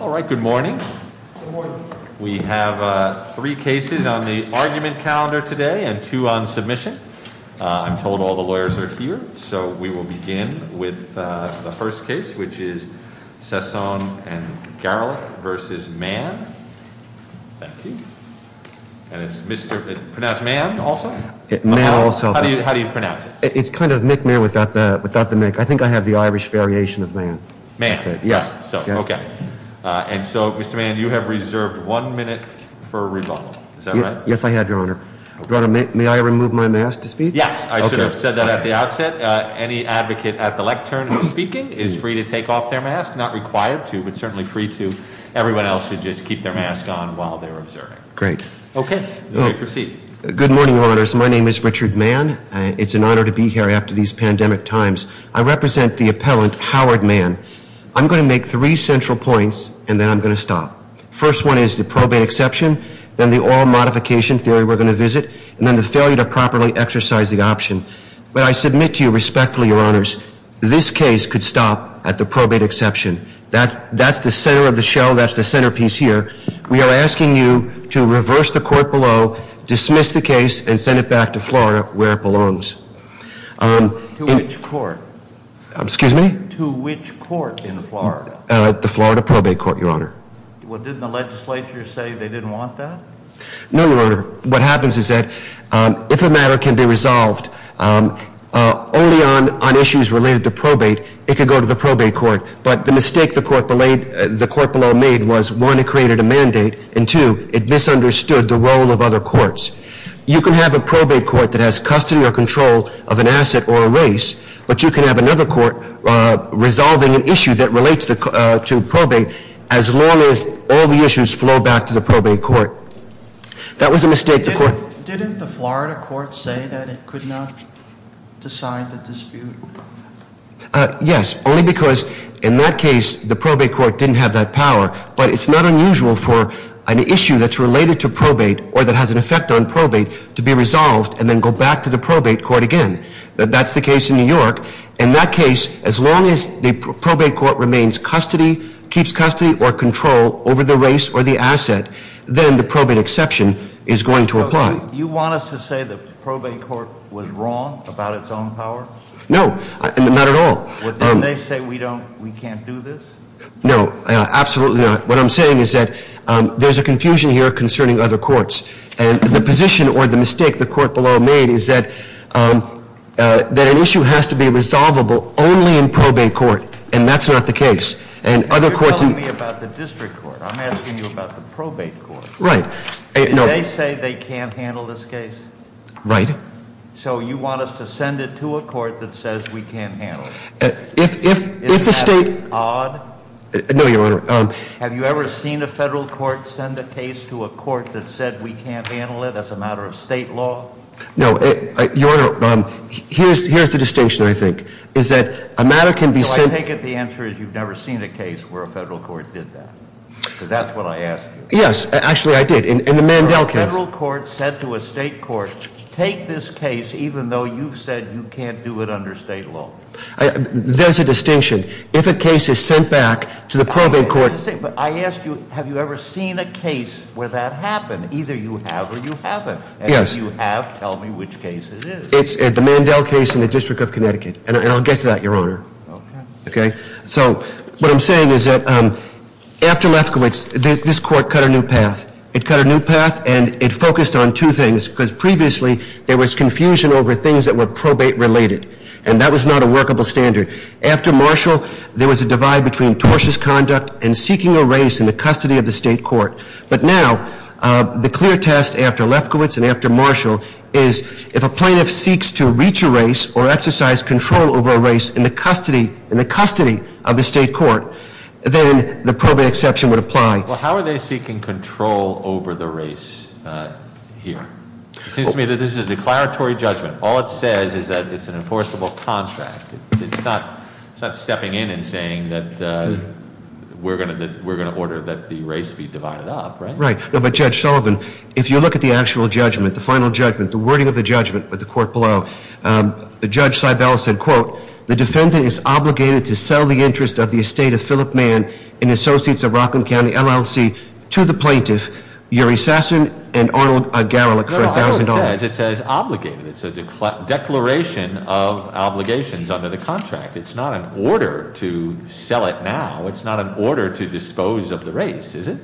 All right, good morning. Good morning. We have three cases on the argument calendar today and two on submission. I'm told all the lawyers are here, so we will begin with the first case, which is Sasson v. Garrelick v. Mann. Thank you. And it's Mr.—pronounced Mann, also? Mann, also. How do you pronounce it? It's kind of a nickname without the—I think I have the Irish variation of Mann. Mann. Yes. Okay. And so, Mr. Mann, you have reserved one minute for rebuttal. Is that right? Yes, I have, Your Honor. May I remove my mask to speak? Yes. I should have said that at the outset. Any advocate at the lectern who is speaking is free to take off their mask. Not required to, but certainly free to. Everyone else should just keep their mask on while they're observing. Great. Okay. You may proceed. Good morning, Your Honors. My name is Richard Mann. It's an honor to be here after these pandemic times. I represent the appellant, Howard Mann. I'm going to make three central points, and then I'm going to stop. First one is the probate exception, then the oral modification theory we're going to visit, and then the failure to properly exercise the option. But I submit to you respectfully, Your Honors, this case could stop at the probate exception. That's the center of the shell. That's the centerpiece here. We are asking you to reverse the court below, dismiss the case, and send it back to Florida where it belongs. To which court? Excuse me? To which court in Florida? The Florida probate court, Your Honor. Well, didn't the legislature say they didn't want that? No, Your Honor. What happens is that if a matter can be resolved only on issues related to probate, it can go to the probate court. But the mistake the court below made was, one, it created a mandate, and, two, it misunderstood the role of other courts. You can have a probate court that has custody or control of an asset or a race, but you can have another court resolving an issue that relates to probate as long as all the issues flow back to the probate court. That was a mistake the court— Didn't the Florida court say that it could not decide the dispute? Yes, only because in that case, the probate court didn't have that power. But it's not unusual for an issue that's related to probate, or that has an effect on probate, to be resolved and then go back to the probate court again. That's the case in New York. In that case, as long as the probate court remains custody, keeps custody or control over the race or the asset, then the probate exception is going to apply. Do you want us to say the probate court was wrong about its own power? No, not at all. Well, didn't they say we can't do this? No, absolutely not. What I'm saying is that there's a confusion here concerning other courts, and the position or the mistake the court below made is that an issue has to be resolvable only in probate court, and that's not the case. You're telling me about the district court. I'm asking you about the probate court. Right. Did they say they can't handle this case? Right. So you want us to send it to a court that says we can't handle it? Is that odd? No, Your Honor. Have you ever seen a federal court send a case to a court that said we can't handle it as a matter of state law? No. Your Honor, here's the distinction, I think, is that a matter can be sent. No, I take it the answer is you've never seen a case where a federal court did that, because that's what I asked you. Yes, actually I did in the Mandel case. A federal court said to a state court, take this case even though you've said you can't do it under state law. There's a distinction. If a case is sent back to the probate court- But I ask you, have you ever seen a case where that happened? Either you have or you haven't. Yes. And if you have, tell me which case it is. It's the Mandel case in the District of Connecticut, and I'll get to that, Your Honor. Okay. Okay? So what I'm saying is that after Lefkowitz, this court cut a new path. It cut a new path, and it focused on two things, because previously there was confusion over things that were probate-related. And that was not a workable standard. After Marshall, there was a divide between tortious conduct and seeking a race in the custody of the state court. But now, the clear test after Lefkowitz and after Marshall is, if a plaintiff seeks to reach a race or exercise control over a race in the custody of the state court, then the probate exception would apply. Well, how are they seeking control over the race here? It seems to me that this is a declaratory judgment. All it says is that it's an enforceable contract. It's not stepping in and saying that we're going to order that the race be divided up, right? Right. No, but Judge Sullivan, if you look at the actual judgment, the final judgment, the wording of the judgment with the court below, Judge Seibel said, quote, the defendant is obligated to sell the interest of the estate of Phillip Mann and Associates of Rockland County, LLC, to the plaintiff, Uri Sasson, and Arnold Garelick, for $1,000. No, Arnold says it says obligated. It's a declaration of obligations under the contract. It's not an order to sell it now. It's not an order to dispose of the race, is it?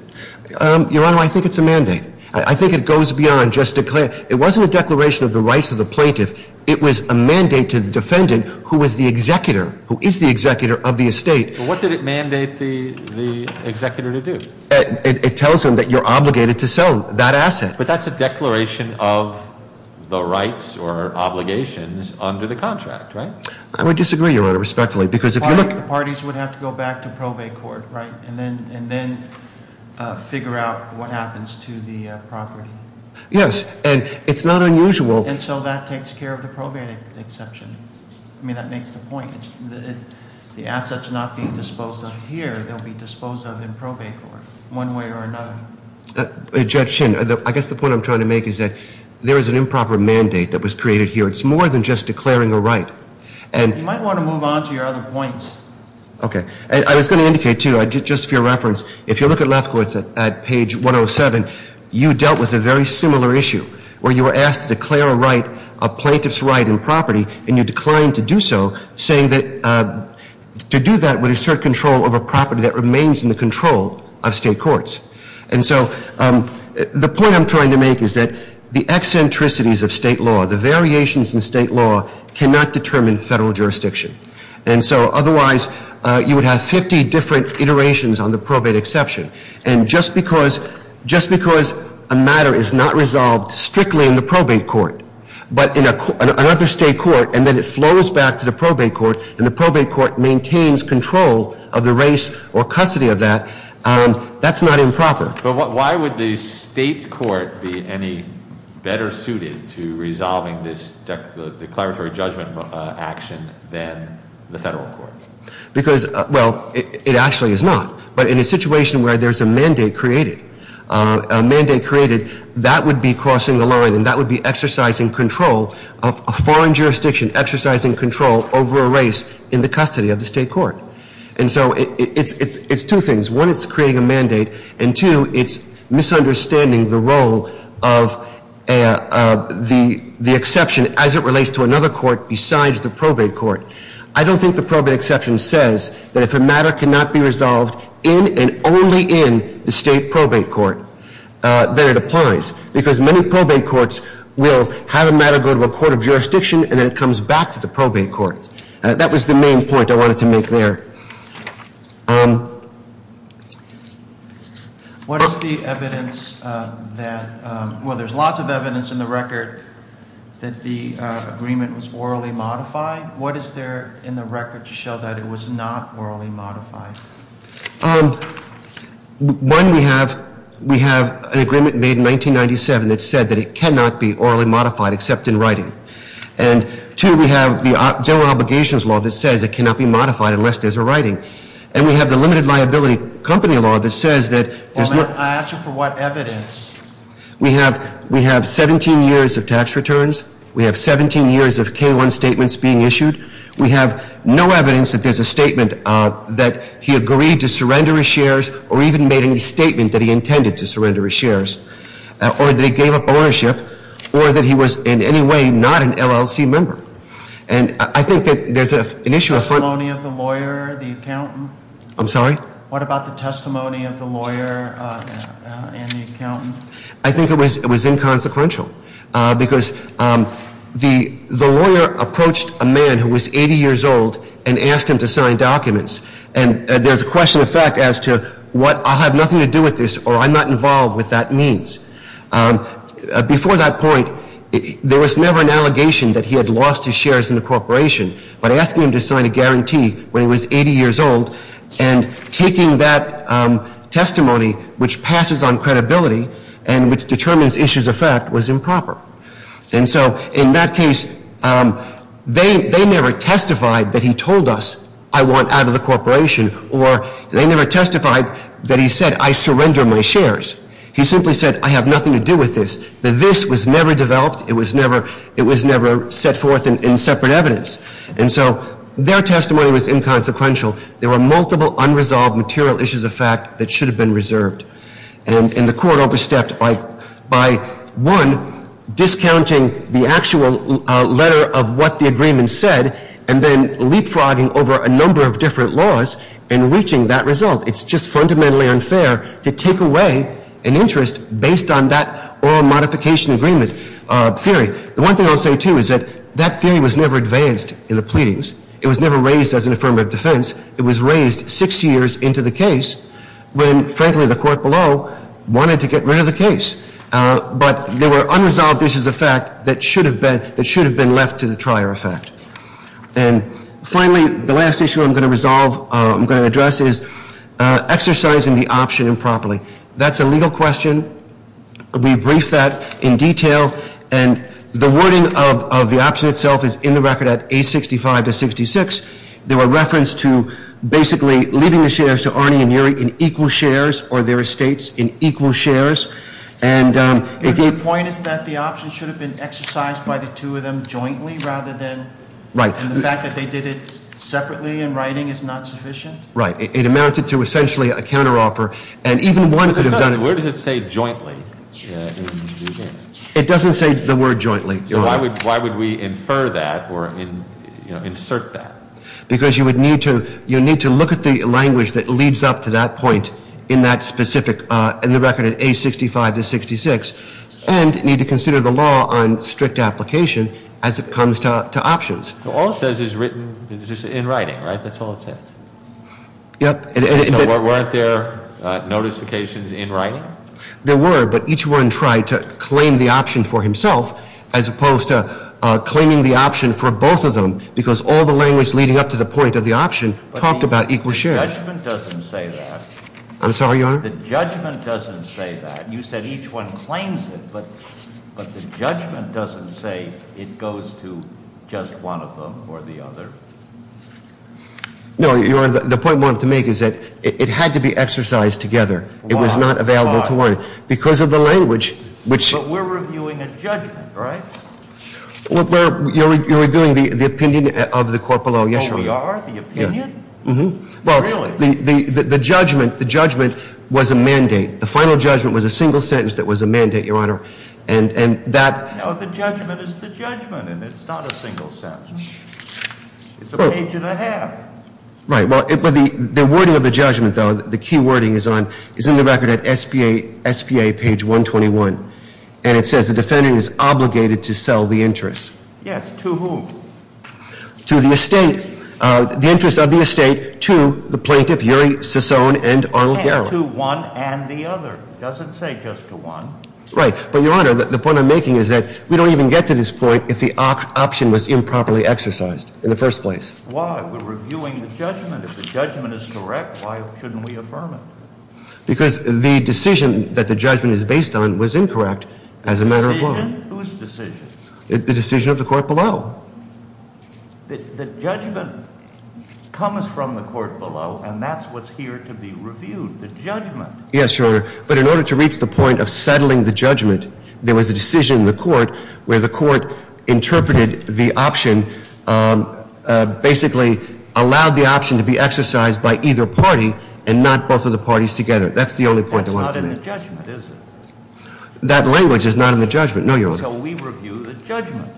Your Honor, I think it's a mandate. I think it goes beyond just a claim. It wasn't a declaration of the rights of the plaintiff. It was a mandate to the defendant, who was the executor, who is the executor of the estate. What did it mandate the executor to do? It tells him that you're obligated to sell that asset. But that's a declaration of the rights or obligations under the contract, right? I would disagree, Your Honor, respectfully, because if you look Parties would have to go back to probate court, right, and then figure out what happens to the property. Yes, and it's not unusual And so that takes care of the probate exception. I mean, that makes the point. The assets not being disposed of here, they'll be disposed of in probate court, one way or another. Judge Chin, I guess the point I'm trying to make is that there is an improper mandate that was created here. It's more than just declaring a right. You might want to move on to your other points. Okay. I was going to indicate, too, just for your reference, if you look at left courts at page 107, you dealt with a very similar issue, where you were asked to declare a right, a plaintiff's right in property, and you declined to do so, saying that to do that would assert control over property that remains in the control of state courts. And so the point I'm trying to make is that the eccentricities of state law, the variations in state law cannot determine federal jurisdiction. And so otherwise, you would have 50 different iterations on the probate exception. And just because a matter is not resolved strictly in the probate court, but in another state court, and then it flows back to the probate court, and the probate court maintains control of the race or custody of that, that's not improper. But why would the state court be any better suited to resolving this declaratory judgment action than the federal court? Because, well, it actually is not. But in a situation where there's a mandate created, that would be crossing the line, and that would be exercising control of a foreign jurisdiction, exercising control over a race in the custody of the state court. And so it's two things. One, it's creating a mandate. And, two, it's misunderstanding the role of the exception as it relates to another court besides the probate court. I don't think the probate exception says that if a matter cannot be resolved in and only in the state probate court, then it applies, because many probate courts will have a matter go to a court of jurisdiction, and then it comes back to the probate court. That was the main point I wanted to make there. What is the evidence that, well, there's lots of evidence in the record that the agreement was orally modified. What is there in the record to show that it was not orally modified? One, we have an agreement made in 1997 that said that it cannot be orally modified except in writing. And, two, we have the General Obligations Law that says it cannot be modified unless there's a writing. And we have the Limited Liability Company Law that says that there's no – I asked you for what evidence. We have 17 years of tax returns. We have 17 years of K-1 statements being issued. We have no evidence that there's a statement that he agreed to surrender his shares or even made any statement that he intended to surrender his shares, or that he gave up ownership, or that he was in any way not an LLC member. And I think that there's an issue of – Testimony of the lawyer, the accountant? I'm sorry? What about the testimony of the lawyer and the accountant? I think it was inconsequential, because the lawyer approached a man who was 80 years old and asked him to sign documents. And there's a question of fact as to what I'll have nothing to do with this or I'm not involved with that means. Before that point, there was never an allegation that he had lost his shares in the corporation. But asking him to sign a guarantee when he was 80 years old and taking that testimony, which passes on credibility and which determines issues of fact, was improper. And so in that case, they never testified that he told us, I want out of the corporation, or they never testified that he said, I surrender my shares. He simply said, I have nothing to do with this. The this was never developed. It was never set forth in separate evidence. And so their testimony was inconsequential. There were multiple unresolved material issues of fact that should have been reserved. And the court overstepped by, one, discounting the actual letter of what the agreement said and then leapfrogging over a number of different laws and reaching that result. It's just fundamentally unfair to take away an interest based on that oral modification agreement theory. The one thing I'll say, too, is that that theory was never advanced in the pleadings. It was never raised as an affirmative defense. It was raised six years into the case when, frankly, the court below wanted to get rid of the case. But there were unresolved issues of fact that should have been left to the trier effect. And finally, the last issue I'm going to resolve, I'm going to address, is exercising the option improperly. That's a legal question. We briefed that in detail. And the wording of the option itself is in the record at 865 to 66. They were referenced to basically leaving the shares to Arnie and Uri in equal shares or their estates in equal shares. And again- Your point is that the option should have been exercised by the two of them jointly rather than- Right. And the fact that they did it separately in writing is not sufficient? Right. It amounted to essentially a counteroffer. And even one could have done it- Where does it say jointly? It doesn't say the word jointly. So why would we infer that or insert that? Because you would need to look at the language that leads up to that point in that specific, in the record at 865 to 66, and need to consider the law on strict application as it comes to options. All it says is written in writing, right? That's all it says? Yep. So weren't there notifications in writing? There were, but each one tried to claim the option for himself as opposed to claiming the option for both of them because all the language leading up to the point of the option talked about equal shares. But the judgment doesn't say that. I'm sorry, Your Honor? The judgment doesn't say that. You said each one claims it, but the judgment doesn't say it goes to just one of them or the other. No, Your Honor, the point I wanted to make is that it had to be exercised together. It was not available to one. Why? Because of the language. But we're reviewing a judgment, right? You're reviewing the opinion of the court below. Yes, Your Honor. Oh, we are? The opinion? Yes. Really? Well, the judgment was a mandate. The final judgment was a single sentence that was a mandate, Your Honor. It's a page and a half. Right. Well, the wording of the judgment, though, the key wording is in the record at SPA page 121. And it says the defendant is obligated to sell the interest. Yes, to whom? To the estate. The interest of the estate to the plaintiff, Uri Sison and Arnold Garrow. And to one and the other. It doesn't say just to one. Right. But, Your Honor, the point I'm making is that we don't even get to this point if the option was improperly exercised in the first place. Why? We're reviewing the judgment. If the judgment is correct, why shouldn't we affirm it? Because the decision that the judgment is based on was incorrect as a matter of law. Decision? Whose decision? The decision of the court below. The judgment comes from the court below, and that's what's here to be reviewed, the judgment. Yes, Your Honor. But in order to reach the point of settling the judgment, there was a decision in the court where the court interpreted the option, basically allowed the option to be exercised by either party and not both of the parties together. That's the only point I want to make. That's not in the judgment, is it? That language is not in the judgment, no, Your Honor. So we review the judgment.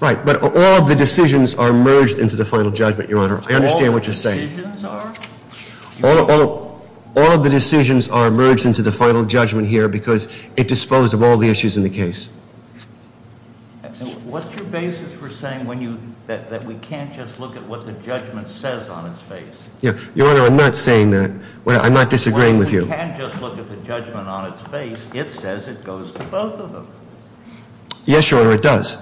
Right. But all of the decisions are merged into the final judgment, Your Honor. I understand what you're saying. All the decisions are? All of the decisions are merged into the final judgment here because it disposed of all the issues in the case. What's your basis for saying that we can't just look at what the judgment says on its face? Your Honor, I'm not saying that. I'm not disagreeing with you. When we can't just look at the judgment on its face, it says it goes to both of them. Yes, Your Honor, it does.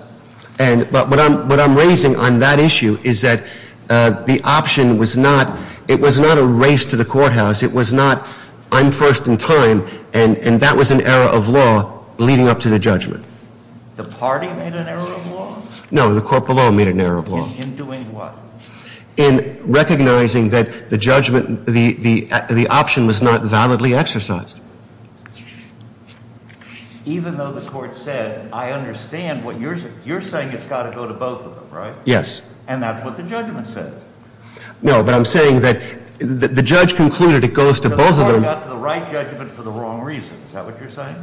But what I'm raising on that issue is that the option was not, it was not a race to the courthouse. It was not, I'm first in time, and that was an error of law leading up to the judgment. The party made an error of law? No, the court below made an error of law. In doing what? In recognizing that the judgment, the option was not validly exercised. Even though the court said, I understand what you're saying. You're saying it's got to go to both of them, right? Yes. And that's what the judgment said. No, but I'm saying that the judge concluded it goes to both of them. The court got to the right judgment for the wrong reasons. Is that what you're saying?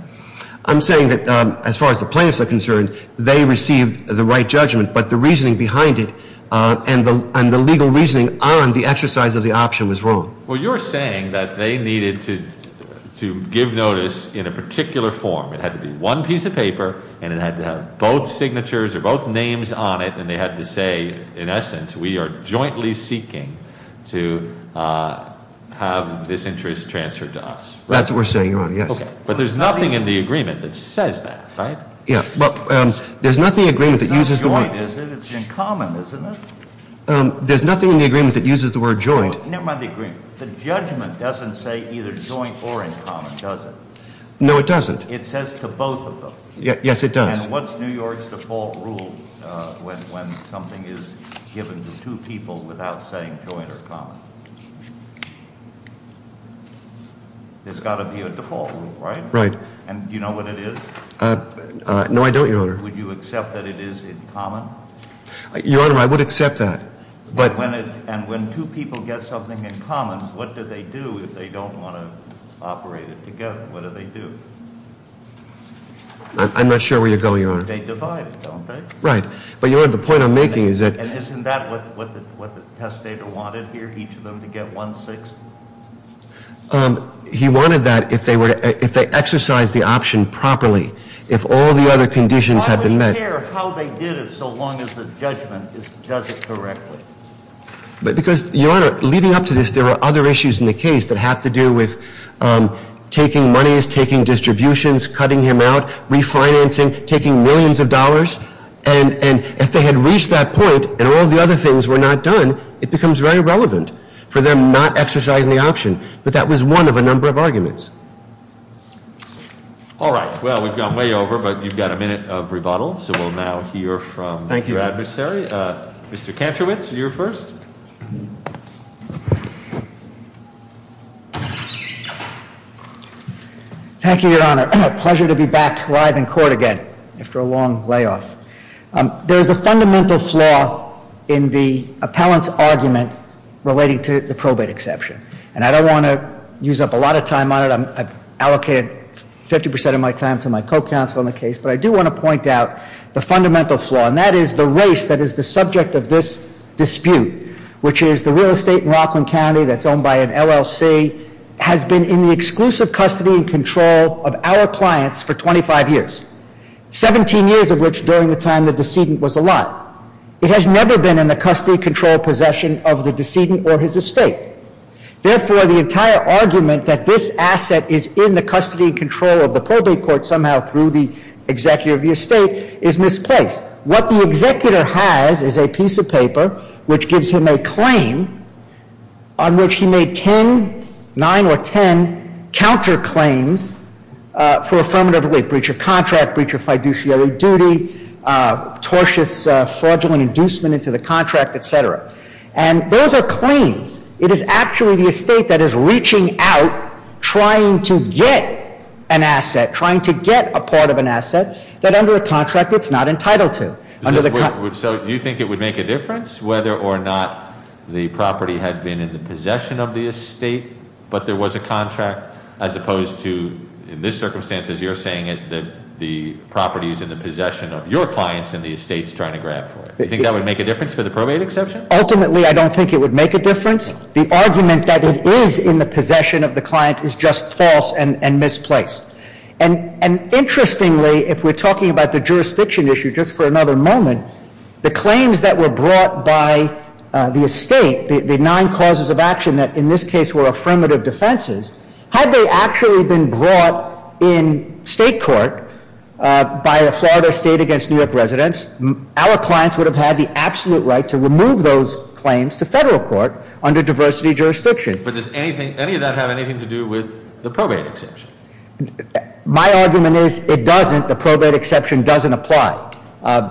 I'm saying that as far as the plaintiffs are concerned, they received the right judgment, but the reasoning behind it and the legal reasoning on the exercise of the option was wrong. Well, you're saying that they needed to give notice in a particular form. It had to be one piece of paper, and it had to have both signatures or both names on it, and they had to say, in essence, we are jointly seeking to have this interest transferred to us. That's what we're saying, Your Honor, yes. But there's nothing in the agreement that says that, right? Yes, but there's nothing in the agreement that uses the word. It's not joint, is it? It's in common, isn't it? There's nothing in the agreement that uses the word joint. Never mind the agreement. The judgment doesn't say either joint or in common, does it? No, it doesn't. It says to both of them. Yes, it does. And what's New York's default rule when something is given to two people without saying joint or common? There's got to be a default rule, right? And do you know what it is? No, I don't, Your Honor. Would you accept that it is in common? Your Honor, I would accept that. And when two people get something in common, what do they do if they don't want to operate it together? What do they do? I'm not sure where you're going, Your Honor. They divide, don't they? Right. But, Your Honor, the point I'm making is that— And isn't that what the testator wanted here, each of them to get one-sixth? He wanted that if they exercised the option properly, if all the other conditions had been met. I don't care how they did it so long as the judgment does it correctly. But because, Your Honor, leading up to this, there were other issues in the case that have to do with taking monies, taking distributions, cutting him out, refinancing, taking millions of dollars. And if they had reached that point and all the other things were not done, it becomes very irrelevant for them not exercising the option. But that was one of a number of arguments. All right. Well, we've gone way over, but you've got a minute of rebuttal. So we'll now hear from your adversary. Thank you. Mr. Kantrowitz, you're first. Thank you, Your Honor. A pleasure to be back live in court again after a long layoff. There is a fundamental flaw in the appellant's argument relating to the probate exception. And I don't want to use up a lot of time on it. I've allocated 50% of my time to my co-counsel on the case. But I do want to point out the fundamental flaw, and that is the race that is the subject of this dispute, which is the real estate in Rockland County that's owned by an LLC has been in the exclusive custody and control of our clients for 25 years, 17 years of which during the time the decedent was alive. It has never been in the custody control possession of the decedent or his estate. Therefore, the entire argument that this asset is in the custody and control of the probate court somehow through the executive of the estate is misplaced. What the executor has is a piece of paper which gives him a claim on which he made 10, 9 or 10 counterclaims for affirmative breach of contract, breach of fiduciary duty, tortious fraudulent inducement into the contract, et cetera. And those are claims. It is actually the estate that is reaching out, trying to get an asset, trying to get a part of an asset that under the contract it's not entitled to. Under the contract- So do you think it would make a difference whether or not the property had been in the possession of the estate, but there was a contract as opposed to, in this circumstances, you're saying that the property is in the possession of your clients and the estate's trying to grab for it. Do you think that would make a difference for the probate exception? Ultimately, I don't think it would make a difference. The argument that it is in the possession of the client is just false and misplaced. And interestingly, if we're talking about the jurisdiction issue, just for another moment, the claims that were brought by the estate, the nine causes of action that in this case were affirmative defenses, had they actually been brought in state court by the Florida State against New York residents, our clients would have had the absolute right to remove those claims to federal court under diversity jurisdiction. But does any of that have anything to do with the probate exception? My argument is it doesn't. The probate exception doesn't apply.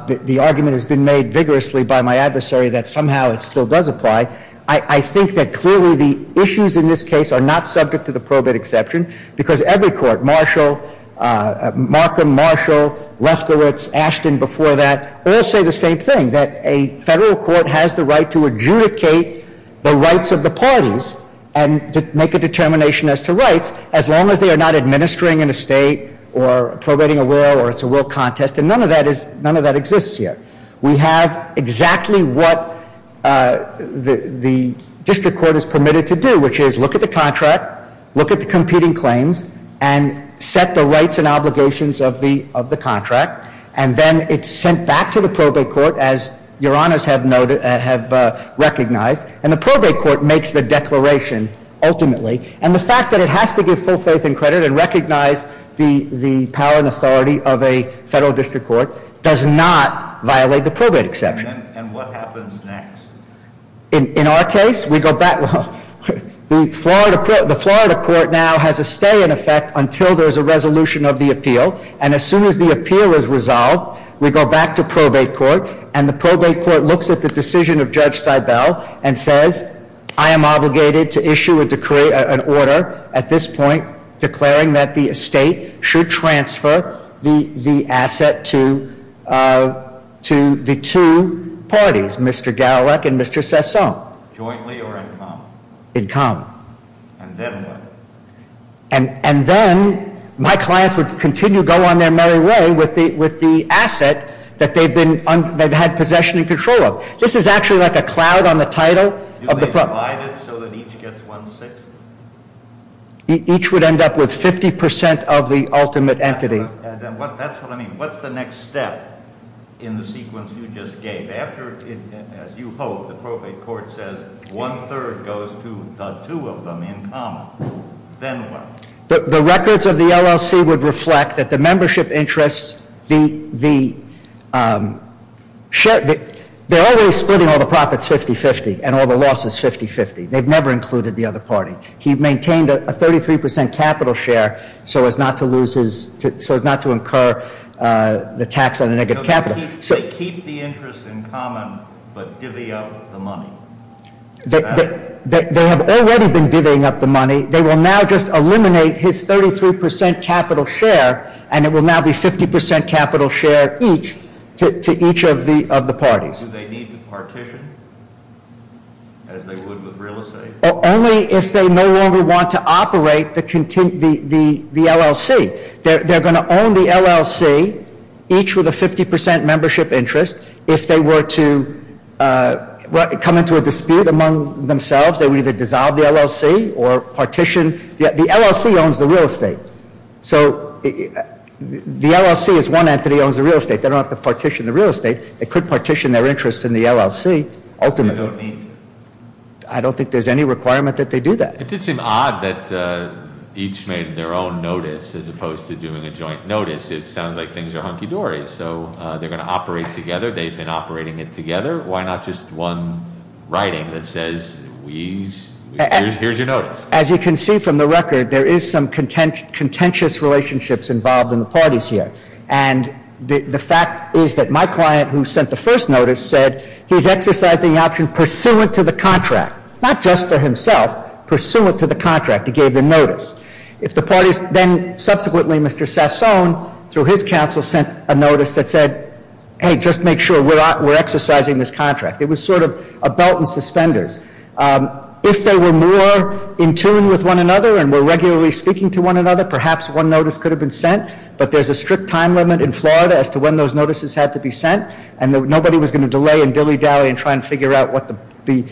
The argument has been made vigorously by my adversary that somehow it still does apply. I think that clearly the issues in this case are not subject to the probate exception, because every court, Marshall, Markham, Marshall, Leskowitz, Ashton, before that, all say the same thing, that a federal court has the right to adjudicate the rights of the parties and make a determination as to rights as long as they are not administering an estate or probating a will or it's a will contest. And none of that exists here. We have exactly what the district court is permitted to do, which is look at the contract, look at the competing claims, and set the rights and obligations of the contract. And then it's sent back to the probate court, as your honors have recognized, and the probate court makes the declaration ultimately. And the fact that it has to give full faith and credit and recognize the power and authority of a federal district court does not violate the probate exception. And what happens next? In our case, we go back. The Florida court now has a stay in effect until there's a resolution of the appeal. And as soon as the appeal is resolved, we go back to probate court. And the probate court looks at the decision of Judge Seibel and says, I am obligated to issue an order at this point declaring that the estate should transfer the asset to the two parties. Mr. Gallek and Mr. Sessom. Jointly or in common? In common. And then what? And then my clients would continue to go on their merry way with the asset that they've had possession and control of. This is actually like a cloud on the title of the- Do they divide it so that each gets one-sixth? Each would end up with 50% of the ultimate entity. That's what I mean. What's the next step in the sequence you just gave? After, as you hope, the probate court says one-third goes to the two of them in common. Then what? The records of the LLC would reflect that the membership interests, they're always splitting all the profits 50-50 and all the losses 50-50. They've never included the other party. He maintained a 33% capital share so as not to incur the tax on the negative capital. They keep the interest in common but divvy up the money. Is that it? They have already been divvying up the money. They will now just eliminate his 33% capital share and it will now be 50% capital share each to each of the parties. Do they need to partition as they would with real estate? Only if they no longer want to operate the LLC. They're going to own the LLC, each with a 50% membership interest. If they were to come into a dispute among themselves, they would either dissolve the LLC or partition. The LLC owns the real estate. So the LLC is one entity that owns the real estate. They don't have to partition the real estate. They could partition their interest in the LLC ultimately. I don't think there's any requirement that they do that. It did seem odd that each made their own notice as opposed to doing a joint notice. It sounds like things are hunky-dory. So they're going to operate together. They've been operating it together. Why not just one writing that says, here's your notice? As you can see from the record, there is some contentious relationships involved in the parties here. And the fact is that my client who sent the first notice said he's exercising the option pursuant to the contract, not just for himself, pursuant to the contract. He gave the notice. Then subsequently, Mr. Sassone, through his counsel, sent a notice that said, hey, just make sure we're exercising this contract. It was sort of a belt and suspenders. If they were more in tune with one another and were regularly speaking to one another, perhaps one notice could have been sent. But there's a strict time limit in Florida as to when those notices had to be sent. And nobody was going to delay and dilly-dally and try and figure out the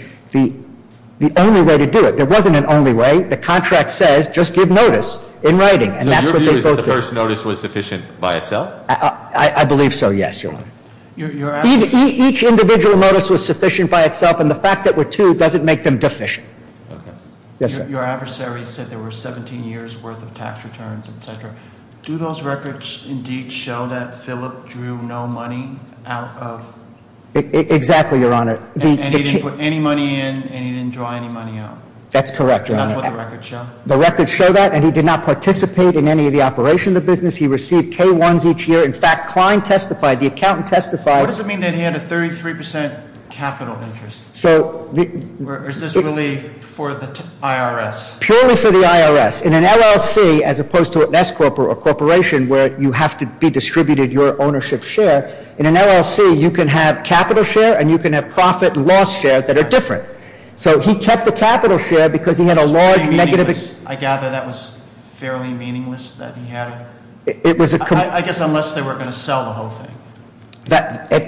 only way to do it. There wasn't an only way. The contract says, just give notice in writing. And that's what they both did. So your view is that the first notice was sufficient by itself? I believe so, yes, Your Honor. Each individual notice was sufficient by itself. And the fact that there were two doesn't make them deficient. Yes, sir. Your adversary said there were 17 years' worth of tax returns, et cetera. Do those records indeed show that Philip drew no money out of- Exactly, Your Honor. And he didn't put any money in and he didn't draw any money out? That's correct, Your Honor. That's what the records show? The records show that. And he did not participate in any of the operation of the business. He received K-1s each year. In fact, Klein testified, the accountant testified- What does it mean that he had a 33% capital interest? So- Or is this really for the IRS? Purely for the IRS. In an LLC, as opposed to an S corporation where you have to be distributed your ownership share, in an LLC you can have capital share and you can have profit and loss share that are different. So he kept the capital share because he had a large negative- I gather that was fairly meaningless that he had a- It was a- I guess unless they were going to sell the whole thing.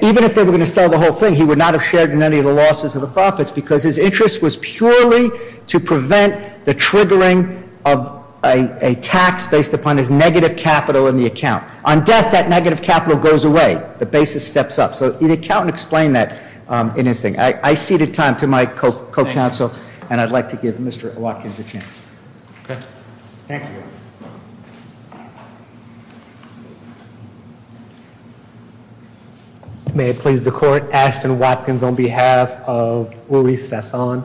Even if they were going to sell the whole thing, he would not have shared in any of the losses or the profits because his interest was purely to prevent the triggering of a tax based upon his negative capital in the account. On death, that negative capital goes away. The basis steps up. So the accountant explained that in his thing. I ceded time to my co-counsel, and I'd like to give Mr. Watkins a chance. Okay. Thank you. Thank you. May it please the court, Ashton Watkins on behalf of Uri Sesson.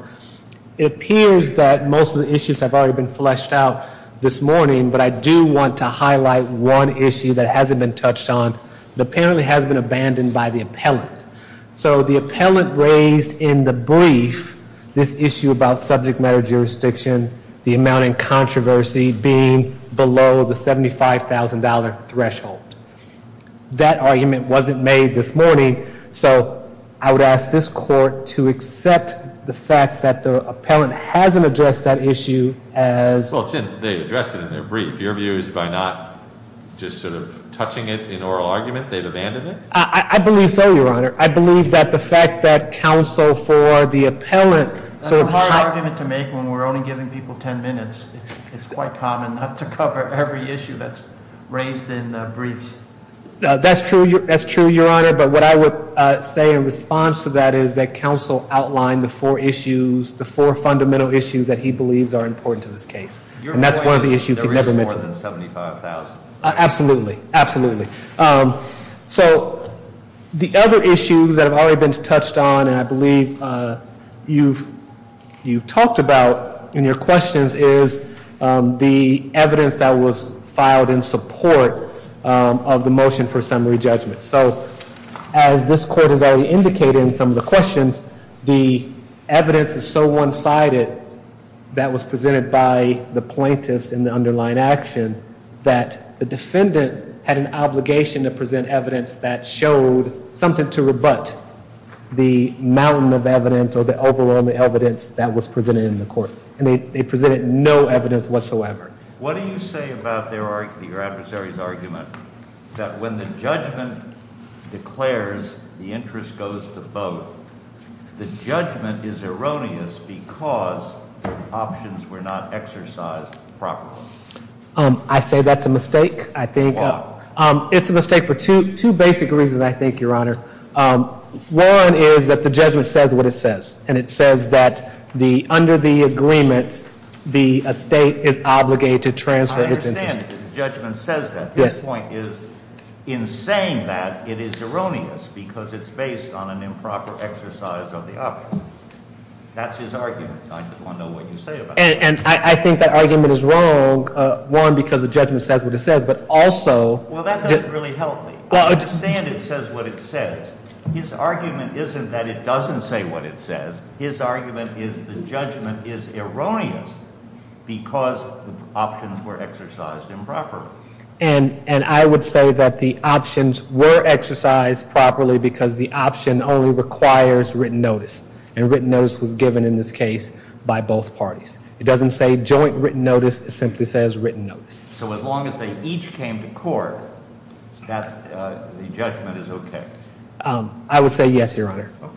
It appears that most of the issues have already been fleshed out this morning, but I do want to highlight one issue that hasn't been touched on. It apparently has been abandoned by the appellant. So the appellant raised in the brief this issue about subject matter jurisdiction, the amount in controversy being below the $75,000 threshold. That argument wasn't made this morning, so I would ask this court to accept the fact that the appellant hasn't addressed that issue as- Well, they addressed it in their brief. Your view is by not just sort of touching it in oral argument, they've abandoned it? I believe so, Your Honor. I believe that the fact that counsel for the appellant- It's a hard argument to make when we're only giving people ten minutes. It's quite common not to cover every issue that's raised in briefs. That's true, Your Honor, but what I would say in response to that is that counsel outlined the four issues, the four fundamental issues that he believes are important to this case. And that's one of the issues he never mentioned. There is more than $75,000. Absolutely. Absolutely. So the other issues that have already been touched on, and I believe you've talked about in your questions, is the evidence that was filed in support of the motion for summary judgment. So as this court has already indicated in some of the questions, the evidence is so one-sided that was presented by the plaintiffs in the underlying action that the defendant had an obligation to present evidence that showed something to rebut the mountain of evidence or the overwhelming evidence that was presented in the court, and they presented no evidence whatsoever. What do you say about your adversary's argument that when the judgment declares the interest goes to both, the judgment is erroneous because options were not exercised properly? I say that's a mistake. Why? It's a mistake for two basic reasons, I think, Your Honor. One is that the judgment says what it says, and it says that under the agreement the estate is obligated to transfer its interest. I understand that the judgment says that. This point is in saying that it is erroneous because it's based on an improper exercise of the option. I just want to know what you say about that. And I think that argument is wrong, one, because the judgment says what it says, but also – Well, that doesn't really help me. I understand it says what it says. His argument isn't that it doesn't say what it says. His argument is the judgment is erroneous because options were exercised improperly. And I would say that the options were exercised properly because the option only requires written notice, and written notice was given in this case by both parties. It doesn't say joint written notice. It simply says written notice. So as long as they each came to court, the judgment is okay? I would say yes, Your Honor. Okay.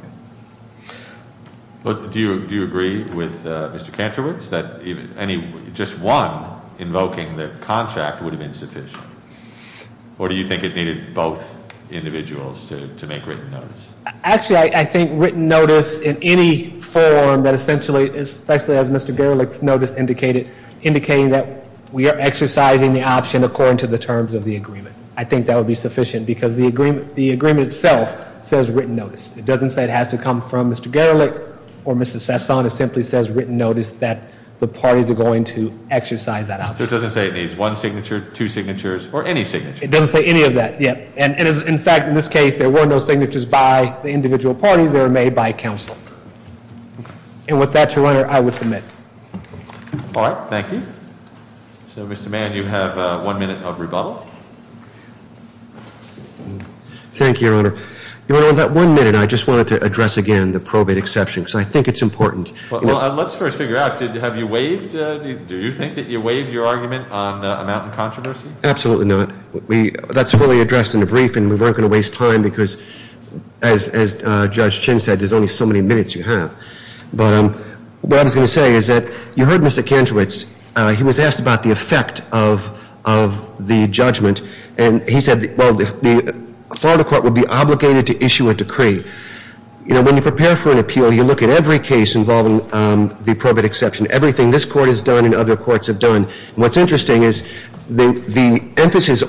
Do you agree with Mr. Kantrowitz that just one invoking the contract would have been sufficient? Or do you think it needed both individuals to make written notice? Actually, I think written notice in any form that essentially, especially as Mr. Gerlich's notice indicated, indicating that we are exercising the option according to the terms of the agreement. I think that would be sufficient because the agreement itself says written notice. It doesn't say it has to come from Mr. Gerlich or Mr. Sesson. It simply says written notice that the parties are going to exercise that option. So it doesn't say it needs one signature, two signatures, or any signature? It doesn't say any of that, yeah. And, in fact, in this case, there were no signatures by the individual parties. They were made by counsel. And with that, Your Honor, I would submit. All right. Thank you. So, Mr. Mann, you have one minute of rebuttal. Thank you, Your Honor. Your Honor, on that one minute, I just wanted to address again the probate exception because I think it's important. Well, let's first figure out, have you waived? Do you think that you waived your argument on amount and controversy? Absolutely not. That's fully addressed in the brief, and we weren't going to waste time because, as Judge Chin said, there's only so many minutes you have. But what I was going to say is that you heard Mr. Kantrowitz. He was asked about the effect of the judgment. And he said, well, the Florida court would be obligated to issue a decree. You know, when you prepare for an appeal, you look at every case involving the probate exception, everything this court has done and other courts have done. And what's interesting is the emphasis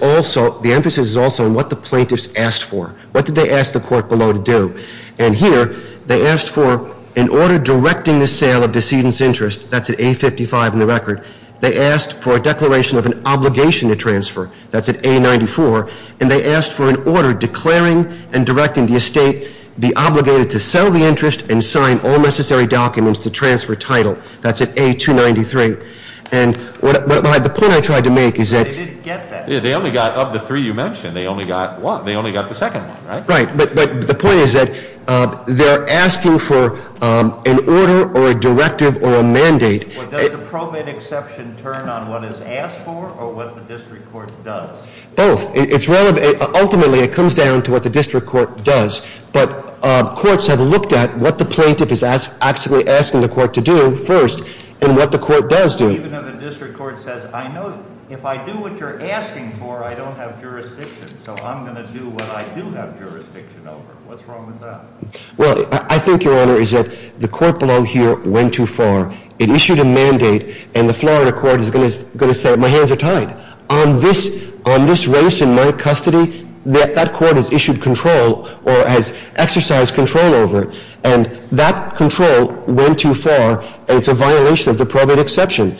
is also on what the plaintiffs asked for. What did they ask the court below to do? And here they asked for an order directing the sale of decedent's interest. That's at A55 in the record. They asked for a declaration of an obligation to transfer. That's at A94. And they asked for an order declaring and directing the estate be obligated to sell the interest and sign all necessary documents to transfer title. That's at A293. And the point I tried to make is that- They didn't get that. They only got, of the three you mentioned, they only got one. They only got the second one, right? Right. But the point is that they're asking for an order or a directive or a mandate. Does the probate exception turn on what is asked for or what the district court does? Both. It's relevant. Ultimately, it comes down to what the district court does. But courts have looked at what the plaintiff is actually asking the court to do first and what the court does do. Even if the district court says, I know if I do what you're asking for, I don't have jurisdiction, so I'm going to do what I do have jurisdiction over. What's wrong with that? Well, I think, Your Honor, is that the court below here went too far. It issued a mandate, and the Florida court is going to say, my hands are tied. On this race in my custody, that court has issued control or has exercised control over it, and that control went too far, and it's a violation of the probate exception.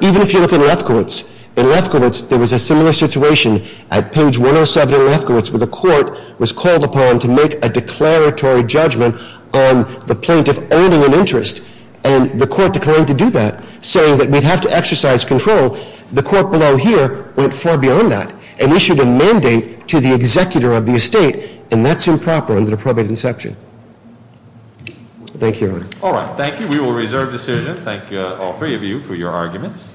Even if you look in Lefkowitz, in Lefkowitz, there was a similar situation at page 107 in Lefkowitz where the court was called upon to make a declaratory judgment on the plaintiff owning an interest, and the court declined to do that, saying that we'd have to exercise control. The court below here went far beyond that and issued a mandate to the executor of the estate, and that's improper under the probate exception. Thank you, Your Honor. All right, thank you. We will reserve decision. Thank you, all three of you, for your arguments.